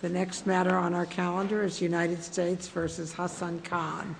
The next matter on our calendar is United States v. Hassan Khan.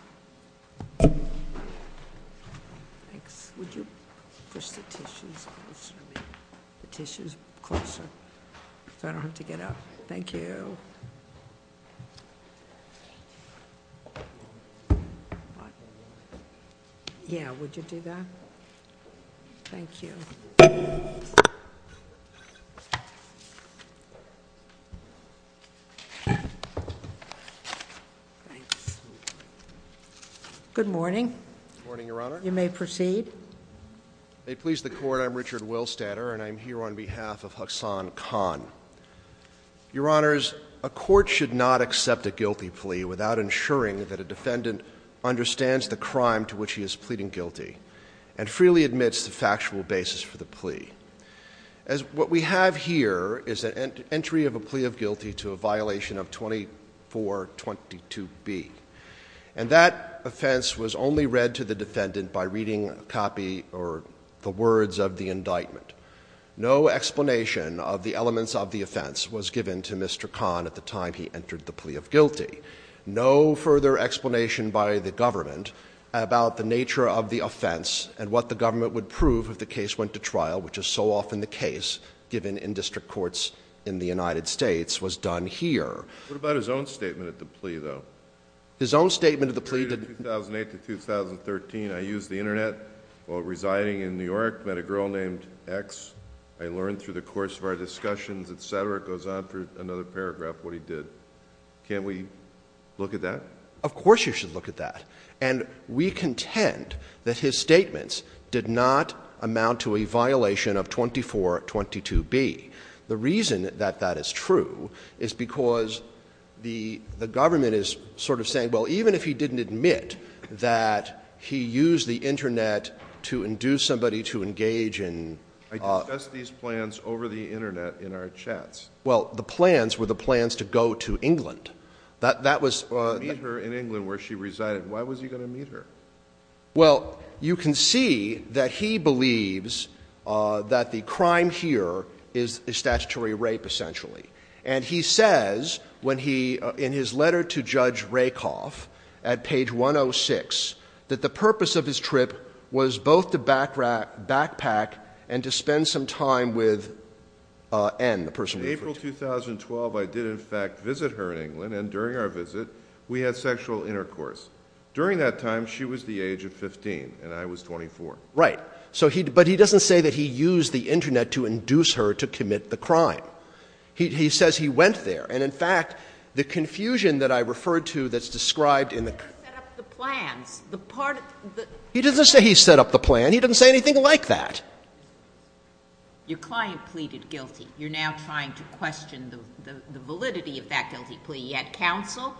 Good morning. Good morning, Your Honor. You may proceed. May it please the Court, I'm Richard Willstatter, and I'm here on behalf of Hassan Khan. Your Honors, a court should not accept a guilty plea without ensuring that a defendant understands the crime to which he is pleading guilty and freely admits the factual basis for the plea. What we have here is an entry of a plea of guilty to a violation of 2422B. And that offense was only read to the defendant by reading a copy or the words of the indictment. No explanation of the elements of the offense was given to Mr. Khan at the time he entered the plea of guilty. No further explanation by the government about the nature of the offense and what the government would prove if the case went to trial, which is so often the case, given in district courts in the United States, was done here. What about his own statement at the plea, though? His own statement at the plea did not— In 2008 to 2013, I used the Internet while residing in New York, met a girl named X. I learned through the course of our discussions, etc. It goes on through another paragraph what he did. Can't we look at that? Of course you should look at that. And we contend that his statements did not amount to a violation of 2422B. The reason that that is true is because the government is sort of saying, well, even if he didn't admit that he used the Internet to induce somebody to engage in— I discussed these plans over the Internet in our chats. Well, the plans were the plans to go to England. That was— Meet her in England where she resided. Why was he going to meet her? Well, you can see that he believes that the crime here is statutory rape, essentially. And he says when he, in his letter to Judge Rakoff at page 106, that the purpose of his trip was both to backpack and to spend some time with N, the person we referred to. In April 2012, I did, in fact, visit her in England. And during our visit, we had sexual intercourse. During that time, she was the age of 15 and I was 24. Right. But he doesn't say that he used the Internet to induce her to commit the crime. He says he went there. And, in fact, the confusion that I referred to that's described in the— He doesn't say he set up the plan. He doesn't say anything like that. Your client pleaded guilty. You're now trying to question the validity of that guilty plea. He had counsel,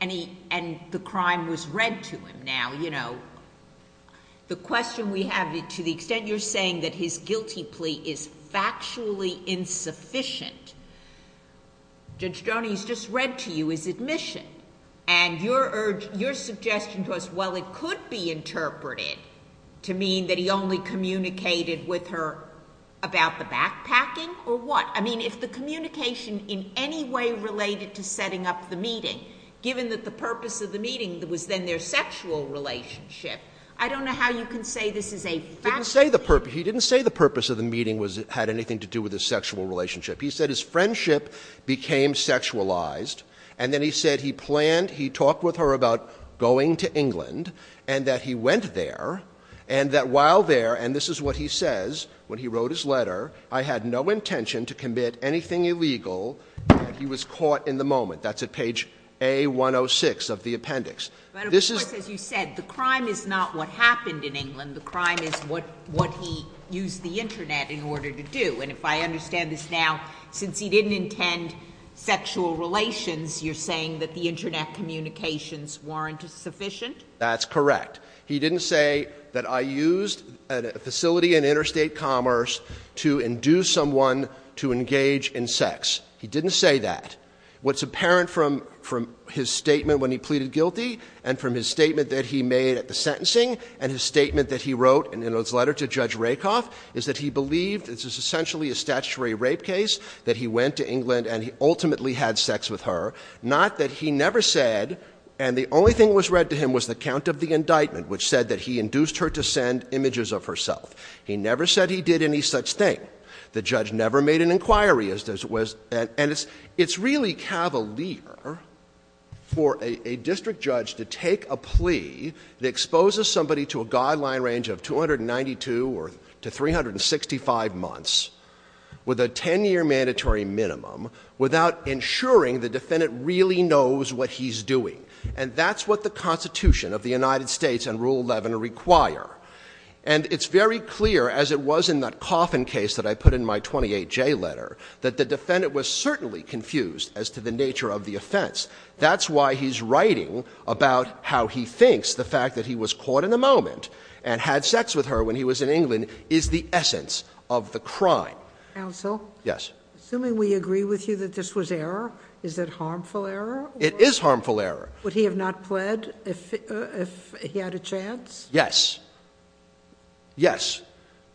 and the crime was read to him. Now, you know, the question we have, to the extent you're saying that his guilty plea is factually insufficient, Judge Stoney, he's just read to you his admission. And your suggestion to us, well, it could be interpreted to mean that he only communicated with her about the backpacking, or what? I mean, if the communication in any way related to setting up the meeting, given that the purpose of the meeting was then their sexual relationship, I don't know how you can say this is a factually— He didn't say the purpose. He didn't say the purpose of the meeting had anything to do with his sexual relationship. He said his friendship became sexualized, and then he said he planned, he talked with her about going to England, and that he went there, and that while there, and this is what he says when he wrote his letter, I had no intention to commit anything illegal. He was caught in the moment. That's at page A106 of the appendix. But, of course, as you said, the crime is not what happened in England. The crime is what he used the Internet in order to do. And if I understand this now, since he didn't intend sexual relations, you're saying that the Internet communications weren't sufficient? That's correct. He didn't say that I used a facility in interstate commerce to induce someone to engage in sex. He didn't say that. What's apparent from his statement when he pleaded guilty, and from his statement that he made at the sentencing, and his statement that he wrote in his letter to Judge that he went to England and ultimately had sex with her, not that he never said, and the only thing that was read to him was the count of the indictment, which said that he induced her to send images of herself. He never said he did any such thing. The judge never made an inquiry. And it's really cavalier for a district judge to take a plea that exposes somebody to a guideline range of 292 or to 365 months with a 10-year mandatory minimum without ensuring the defendant really knows what he's doing. And that's what the Constitution of the United States and Rule 11 require. And it's very clear, as it was in that coffin case that I put in my 28J letter, that the defendant was certainly confused as to the nature of the offense. That's why he's writing about how he thinks the fact that he was caught in the moment and had sex with her when he was in England is the essence of the crime. Counsel? Yes. Assuming we agree with you that this was error, is it harmful error? It is harmful error. Would he have not pled if he had a chance? Yes. Yes.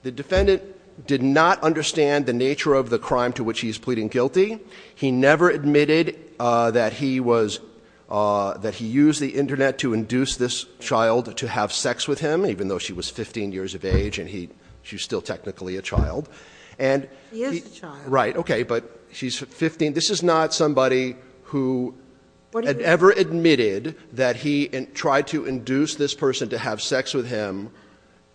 The defendant did not understand the nature of the crime to which he's pleading guilty. He never admitted that he used the Internet to induce this child to have sex with him, even though she was 15 years of age and she's still technically a child. He is a child. Right. Okay. But she's 15. This is not somebody who ever admitted that he tried to induce this person to have sex with him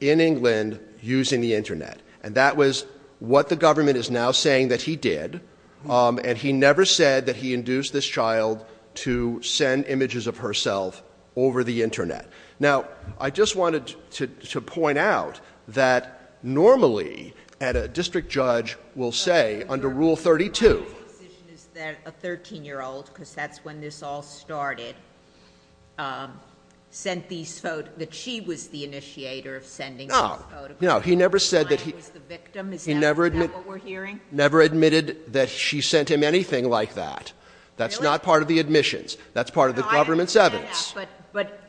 in England using the Internet. And that was what the government is now saying that he did. And he never said that he induced this child to send images of herself over the Internet. Now, I just wanted to point out that normally a district judge will say under Rule 32 The decision is that a 13-year-old, because that's when this all started, sent these photos, that she was the initiator of sending these photos. He never admitted that she sent him anything like that. That's not part of the admissions. That's part of the government's evidence. But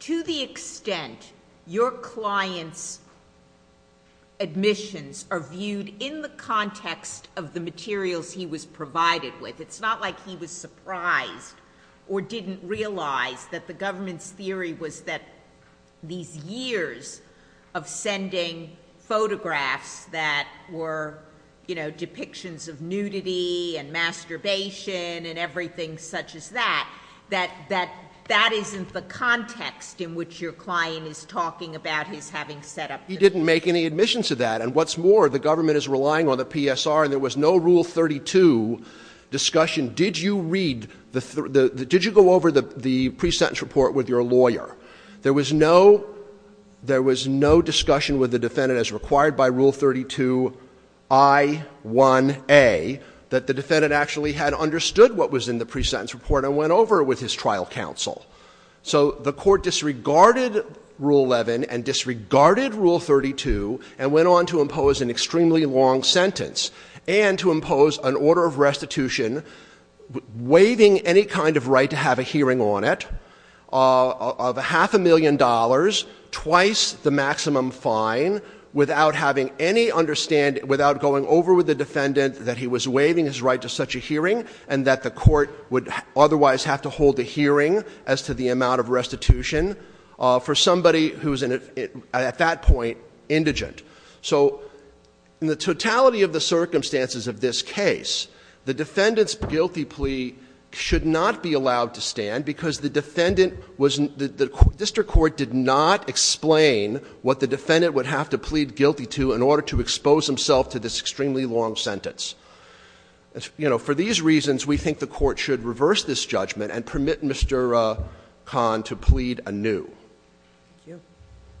to the extent your client's admissions are viewed in the context of the materials he was provided with, it's not like he was surprised or didn't realize that the government's theory was that these years of sending photographs that were, you know, depictions of nudity and masturbation and everything such as that, that that isn't the context in which your client is talking about his having set up. He didn't make any admissions to that. And what's more, the government is relying on the PSR, and there was no Rule 32 discussion. Did you read, did you go over the pre-sentence report with your lawyer? There was no discussion with the defendant as required by Rule 32I1A that the defendant actually had understood what was in the pre-sentence report and went over it with his trial counsel. So the court disregarded Rule 11 and disregarded Rule 32 and went on to impose an extremely long sentence and to impose an order of restitution waiving any kind of right to have a hearing on it, of half a million dollars, twice the maximum fine, without having any understanding, without going over with the defendant that he was waiving his right to such a hearing and that the court would otherwise have to hold a hearing as to the amount of restitution for somebody who's at that point indigent. So in the totality of the circumstances of this case, the defendant's guilty plea should not be allowed to stand because the defendant was, the district court did not explain what the defendant would have to plead guilty to in order to expose himself to this extremely long sentence. You know, for these reasons, we think the court should reverse this judgment and permit Mr. Kahn to plead anew.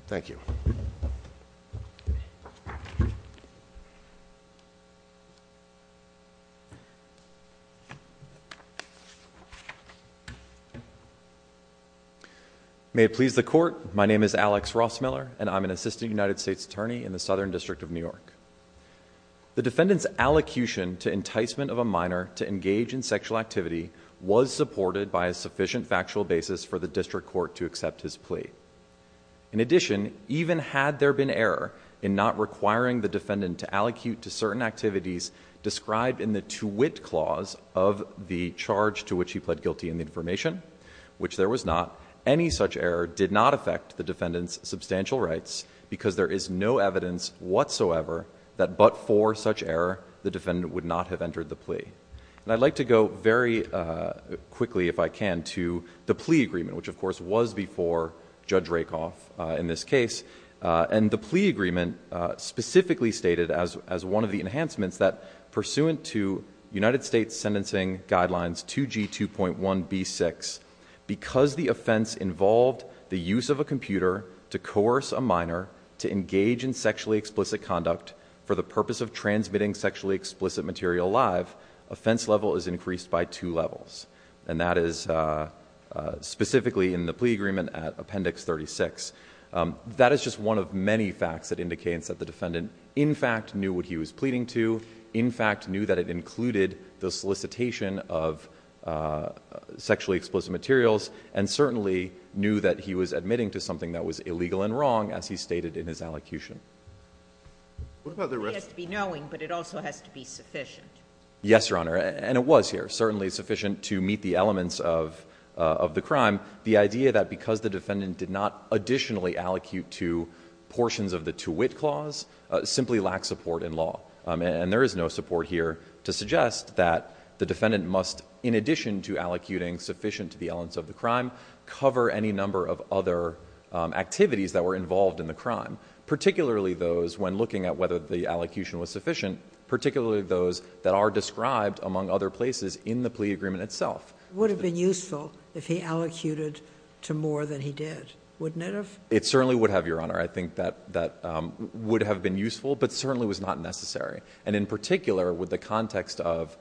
Thank you. Alex Ross-Miller May it please the court, my name is Alex Ross-Miller and I'm an Assistant United States Attorney in the Southern District of New York. The defendant's allocution to enticement of a minor to engage in sexual activity was supported by a sufficient factual basis for the district court to accept his plea. In addition, even had there been error in not requiring the defendant to allocute to certain activities described in the to-wit clause of the charge to which he pled guilty in the information, which there was not, any such error did not affect the defendant's substantial rights because there is no evidence whatsoever that but for such error the defendant would not have entered the plea. And I'd like to go very quickly, if I can, to the plea agreement, which of course was before Judge Rakoff in this case. And the plea agreement specifically stated as one of the enhancements that pursuant to United States Sentencing Guidelines 2G2.1b6, because the offense involved the use of a computer to coerce a minor to engage in sexually explicit conduct for the purpose of transmitting sexually explicit material live, offense level is increased by two levels. And that is specifically in the plea agreement at Appendix 36. That is just one of many facts that indicates that the defendant, in fact, knew what he was pleading to, in fact, knew that it included the solicitation of sexually explicit materials, and certainly knew that he was admitting to something that was illegal and wrong, as he stated in his allocution. What about the rest? Yes, Your Honor. And it was here, certainly sufficient to meet the elements of the crime. The idea that because the defendant did not additionally allocute to portions of the to-wit clause simply lacks support in law. And there is no support here to suggest that the defendant must, in addition to allocuting sufficient to the elements of the crime, cover any number of other activities that were involved in the crime, particularly those when looking at whether the allocution was sufficient, particularly those that are described, among other places, in the plea agreement itself. It would have been useful if he allocated to more than he did, wouldn't it have? It certainly would have, Your Honor. I think that would have been useful, but certainly was not necessary. And in particular, with the context of,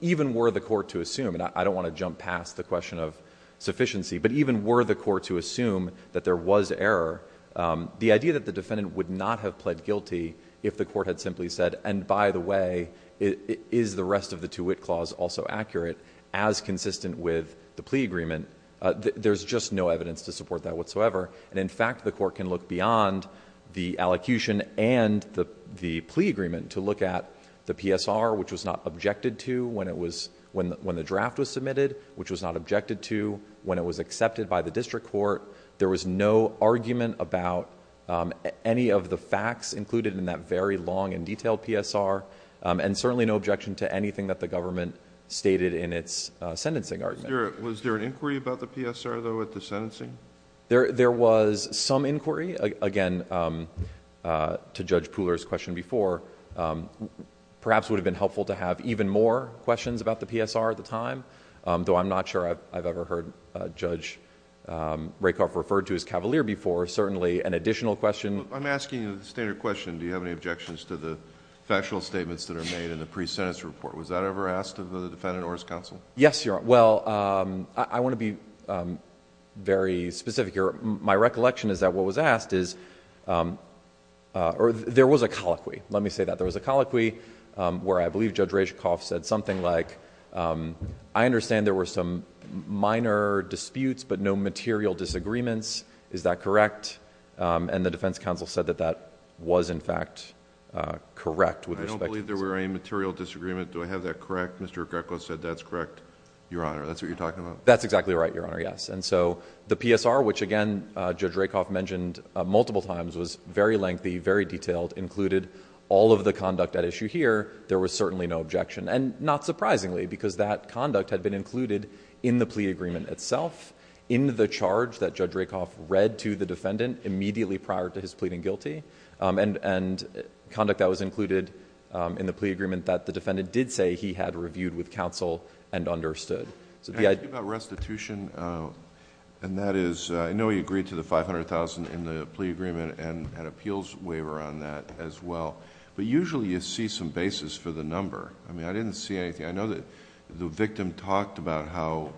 even were the court to assume, and I don't want to jump past the question of sufficiency, but even were the court to assume that there was error, the idea that the defendant would not have pled guilty if the court had simply said, and by the way, is the rest of the to-wit clause also accurate, as consistent with the plea agreement, there's just no evidence to support that whatsoever. And in fact, the court can look beyond the allocution and the plea agreement to look at the PSR, which was not objected to when the draft was submitted, which was not objected to when it was accepted by the district court. There was no argument about any of the facts included in that very long and detailed PSR, and certainly no objection to anything that the government stated in its sentencing argument. Was there an inquiry about the PSR, though, at the sentencing? There was some inquiry, again, to Judge Pooler's question before. Perhaps it would have been helpful to have even more questions about the PSR at the time, though I'm not sure I've ever heard Judge Rakoff referred to as cavalier before. Certainly an additional question... I'm asking a standard question. Do you have any objections to the factual statements that are made in the pre-sentence report? Was that ever asked of the defendant or his counsel? Yes, Your Honor. Well, I want to be very specific here. My recollection is that what was asked is... There was a colloquy. Let me say that. There was a colloquy where I believe Judge Rakoff said something like, I understand there were some minor disputes, but no material disagreements. Is that correct? The defense counsel said that that was, in fact, correct with respect to... I don't believe there were any material disagreements. Do I have that correct? Mr. Greco said that's correct, Your Honor. That's what you're talking about? That's exactly right, Your Honor, yes. The PSR, which, again, Judge Rakoff mentioned multiple times, was very lengthy, very detailed, included all of the conduct at issue here. There was certainly no objection. Not surprisingly, because that conduct had been included in the plea agreement itself, in the charge that Judge Rakoff read to the defendant immediately prior to his pleading guilty, and conduct that was included in the plea agreement that the defendant did say he had reviewed with counsel and understood. I think about restitution, and that is... I know he agreed to the $500,000 in the plea agreement and an appeals waiver on that as well, but usually you see some basis for the number. I mean, I didn't see anything. I know that the victim talked about how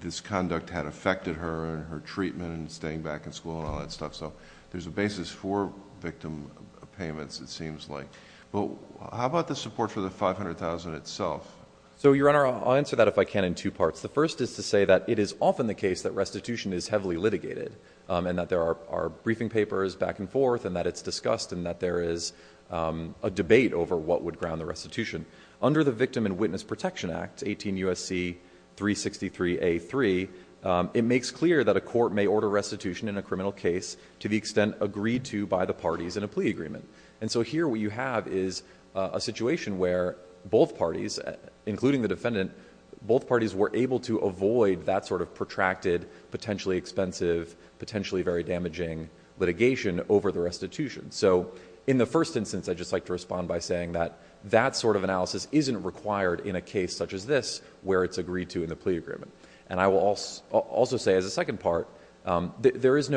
this conduct had affected her and her treatment and staying back in school and all that stuff, so there's a basis for victim payments, it seems like. But how about the support for the $500,000 itself? So, Your Honor, I'll answer that if I can in two parts. The first is to say that it is often the case that restitution is heavily litigated and that there are briefing papers back and forth and that it's discussed and that there is a debate over what would ground the restitution. Under the Victim and Witness Protection Act, 18 U.S.C. 363A.3, it makes clear that a court may order restitution in a criminal case to the extent agreed to by the parties in a plea agreement. And so here what you have is a situation where both parties, including the defendant, both parties were able to avoid that sort of protracted, potentially expensive, potentially very damaging litigation over the restitution. So, in the first instance, I'd just like to respond by saying that that sort of analysis isn't required in a case such as this where it's agreed to in the plea agreement. And I will also say, as a second part, there is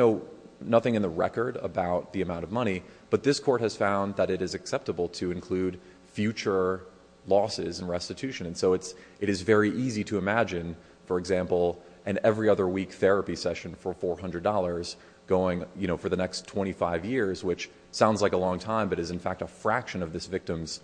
nothing in the record about the amount of money, but this court has found that it is acceptable to include future losses in restitution. And so it is very easy to imagine, for example, an every other week therapy session for $400 going for the next 25 years, which sounds like a long time, but is in fact a fraction of this victim's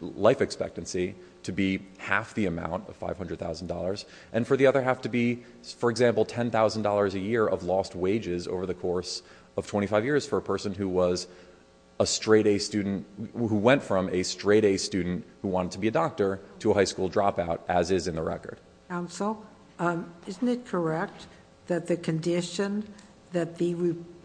life expectancy, to be half the amount, $500,000, and for the other half to be, for example, $10,000 a year of lost wages over the course of 25 years for a person who was a straight-A student, who went from a straight-A student who wanted to be a doctor to a high school dropout, as is in the record. Counsel, isn't it correct that the condition that the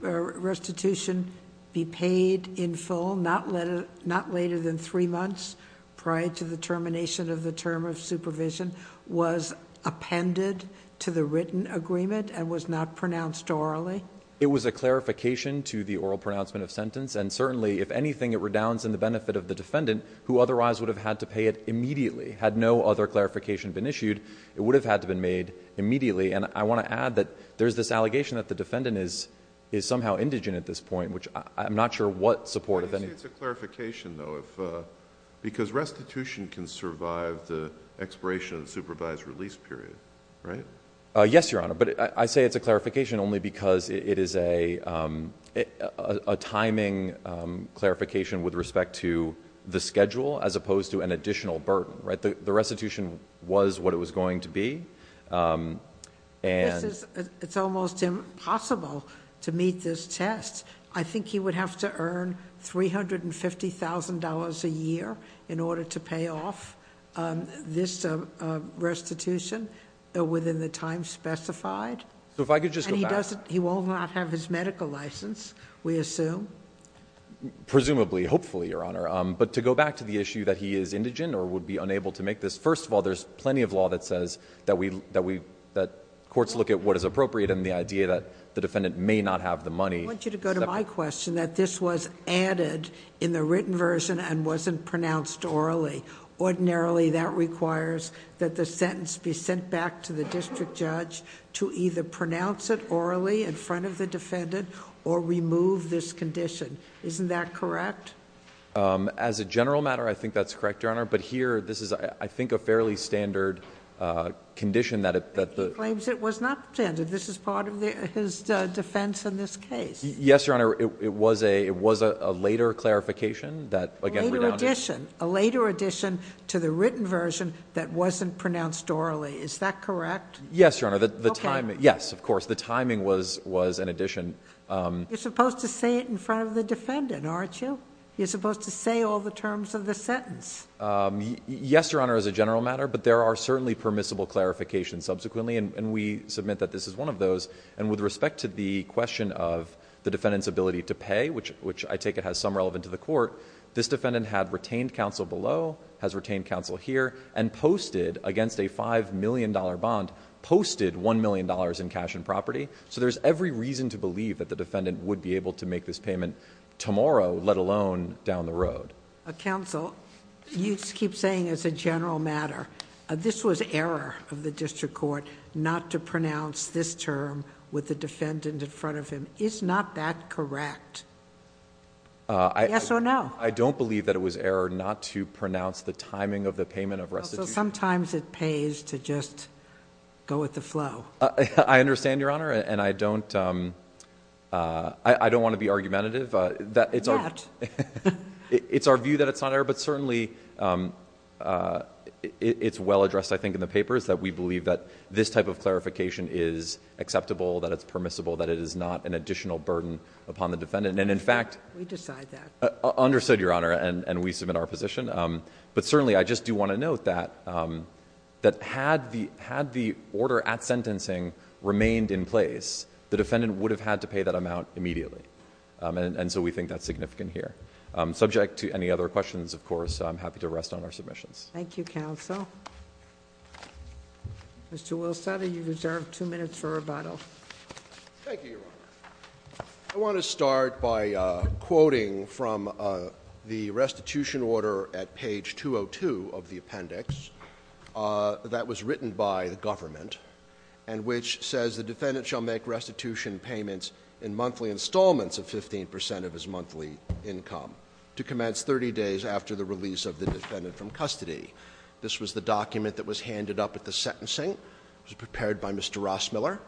restitution be paid in full, not later than three months prior to the termination of the term of supervision, was appended to the written agreement and was not pronounced orally? It was a clarification to the oral pronouncement of sentence, and certainly, if anything, it redounds in the benefit of the defendant, who otherwise would have had to pay it immediately had no other clarification been issued. It would have had to be made immediately, and I want to add that there's this allegation that the defendant is somehow indigent at this point, which I'm not sure what support of any... But you say it's a clarification, though, because restitution can survive the expiration of the supervised release period, right? Yes, Your Honor, but I say it's a clarification only because it is a timing clarification with respect to the schedule as opposed to an additional burden, right? The restitution was what it was going to be, and... It's almost impossible to meet this test. I think he would have to earn $350,000 a year in order to pay off this restitution within the time specified. So if I could just go back... And he won't not have his medical license, we assume? Presumably, hopefully, Your Honor. But to go back to the issue that he is indigent or would be unable to make this, first of all, there's plenty of law that says that courts look at what is appropriate and the idea that the defendant may not have the money... I want you to go to my question, that this was added in the written version and wasn't pronounced orally. Ordinarily, that requires that the sentence be sent back to the district judge to either pronounce it orally in front of the defendant or remove this condition. Isn't that correct? As a general matter, I think that's correct, Your Honor. But here, this is, I think, a fairly standard condition that... But he claims it was not standard. This is part of his defense in this case. Yes, Your Honor. It was a later clarification that... A later addition to the written version that wasn't pronounced orally. Is that correct? Yes, Your Honor. Yes, of course. The timing was an addition. You're supposed to say it in front of the defendant, aren't you? You're supposed to say all the terms of the sentence. Yes, Your Honor, as a general matter. But there are certainly permissible clarifications subsequently. And we submit that this is one of those. And with respect to the question of the defendant's ability to pay, which I take it has some relevance to the court, this defendant had retained counsel below, has retained counsel here, and posted against a $5 million bond, posted $1 million in cash and property. So there's every reason to believe that the defendant would be able to make this payment tomorrow, let alone down the road. Counsel, you keep saying as a general matter, this was error of the district court not to pronounce this term with the defendant in front of him. Is not that correct? Yes or no? I don't believe that it was error not to pronounce the timing of the payment of restitution. Sometimes it pays to just go with the flow. I understand, Your Honor. And I don't want to be argumentative. Yet. It's our view that it's not error. But certainly, it's well addressed, I think, in the papers, that we believe that this type of clarification is acceptable, that it's permissible, that it is not an additional burden upon the defendant. And in fact... We decide that. Understood, Your Honor. And we submit our position. But certainly, I just do want to note that had the order at sentencing remained in place, the defendant would have had to pay that amount immediately. And so we think that's significant here. Subject to any other questions, of course, I'm happy to rest on our submissions. Thank you, Counsel. Mr. Wilstead, you're reserved two minutes for rebuttal. Thank you, Your Honor. I want to start by quoting from the restitution order at page 202 of the appendix that was written by the government and which says, The defendant shall make restitution payments in monthly installments of 15 percent of his monthly income to commence 30 days after the release of the defendant from custody. This was the document that was handed up at the sentencing. It was prepared by Mr. Rossmiller.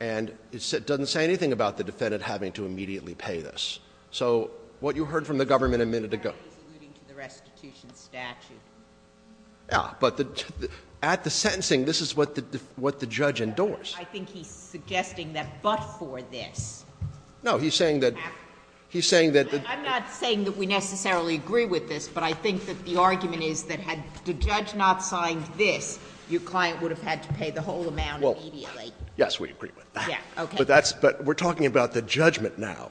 And it doesn't say anything about the defendant having to immediately pay this. So what you heard from the government a minute ago... Apparently, he's alluding to the restitution statute. Yeah, but at the sentencing, this is what the judge endures. I think he's suggesting that but for this... No, he's saying that... I'm not saying that we necessarily agree with this, but I think that the argument is that had the judge not signed this, your client would have had to pay the whole amount immediately. Yes, we agree with that. Okay. But we're talking about the judgment now.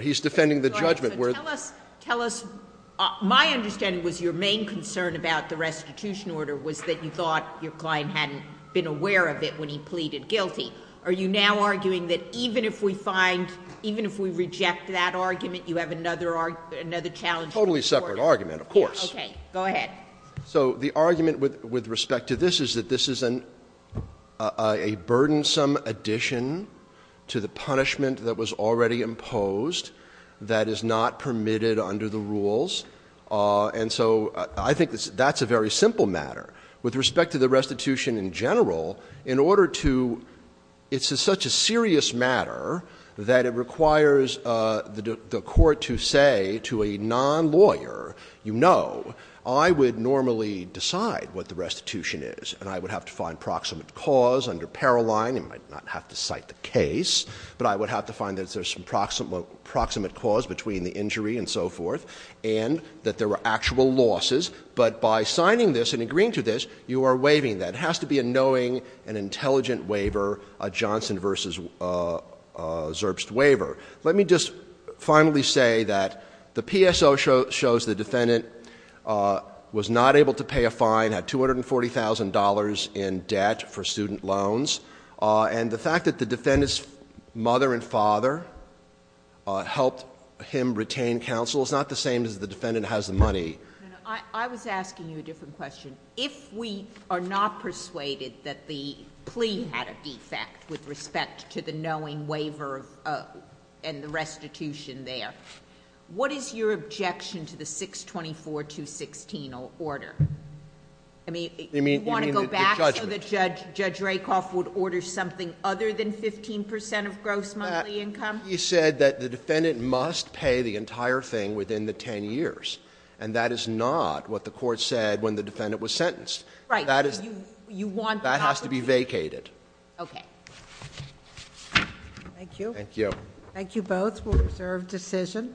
He's defending the judgment. Tell us, my understanding was your main concern about the restitution order was that you thought your client hadn't been aware of it when he pleaded guilty. Are you now arguing that even if we find, even if we reject that argument, you have another challenge? Totally separate argument, of course. Go ahead. So the argument with respect to this is that this is a burdensome addition to the punishment that was already imposed that is not permitted under the rules. And so I think that's a very simple matter. With respect to the restitution in general, in order to... It's such a serious matter that it requires the court to say to a non-lawyer, you know, I would normally decide what the restitution is, and I would have to find proximate cause under Paroline. You might not have to cite the case, but I would have to find that there's some proximate cause between the injury and so forth, and that there were actual losses. But by signing this and agreeing to this, you are waiving that. It has to be a knowing and intelligent waiver, a Johnson v. Zerbst waiver. Let me just finally say that the PSO shows the defendant was not able to pay a fine, had $240,000 in debt for student loans. And the fact that the defendant's mother and father helped him retain counsel is not the same as the defendant has the money. I was asking you a different question. If we are not persuaded that the plea had a defect with respect to the knowing waiver and the restitution there, what is your objection to the 624.216 order? I mean, do you want to go back so that Judge Rakoff would order something other than 15 percent of gross monthly income? He said that the defendant must pay the entire thing within the 10 years, and that is not what the court said when the defendant was sentenced. Right. That has to be vacated. Okay. Thank you. Thank you. Thank you both. We'll reserve decision.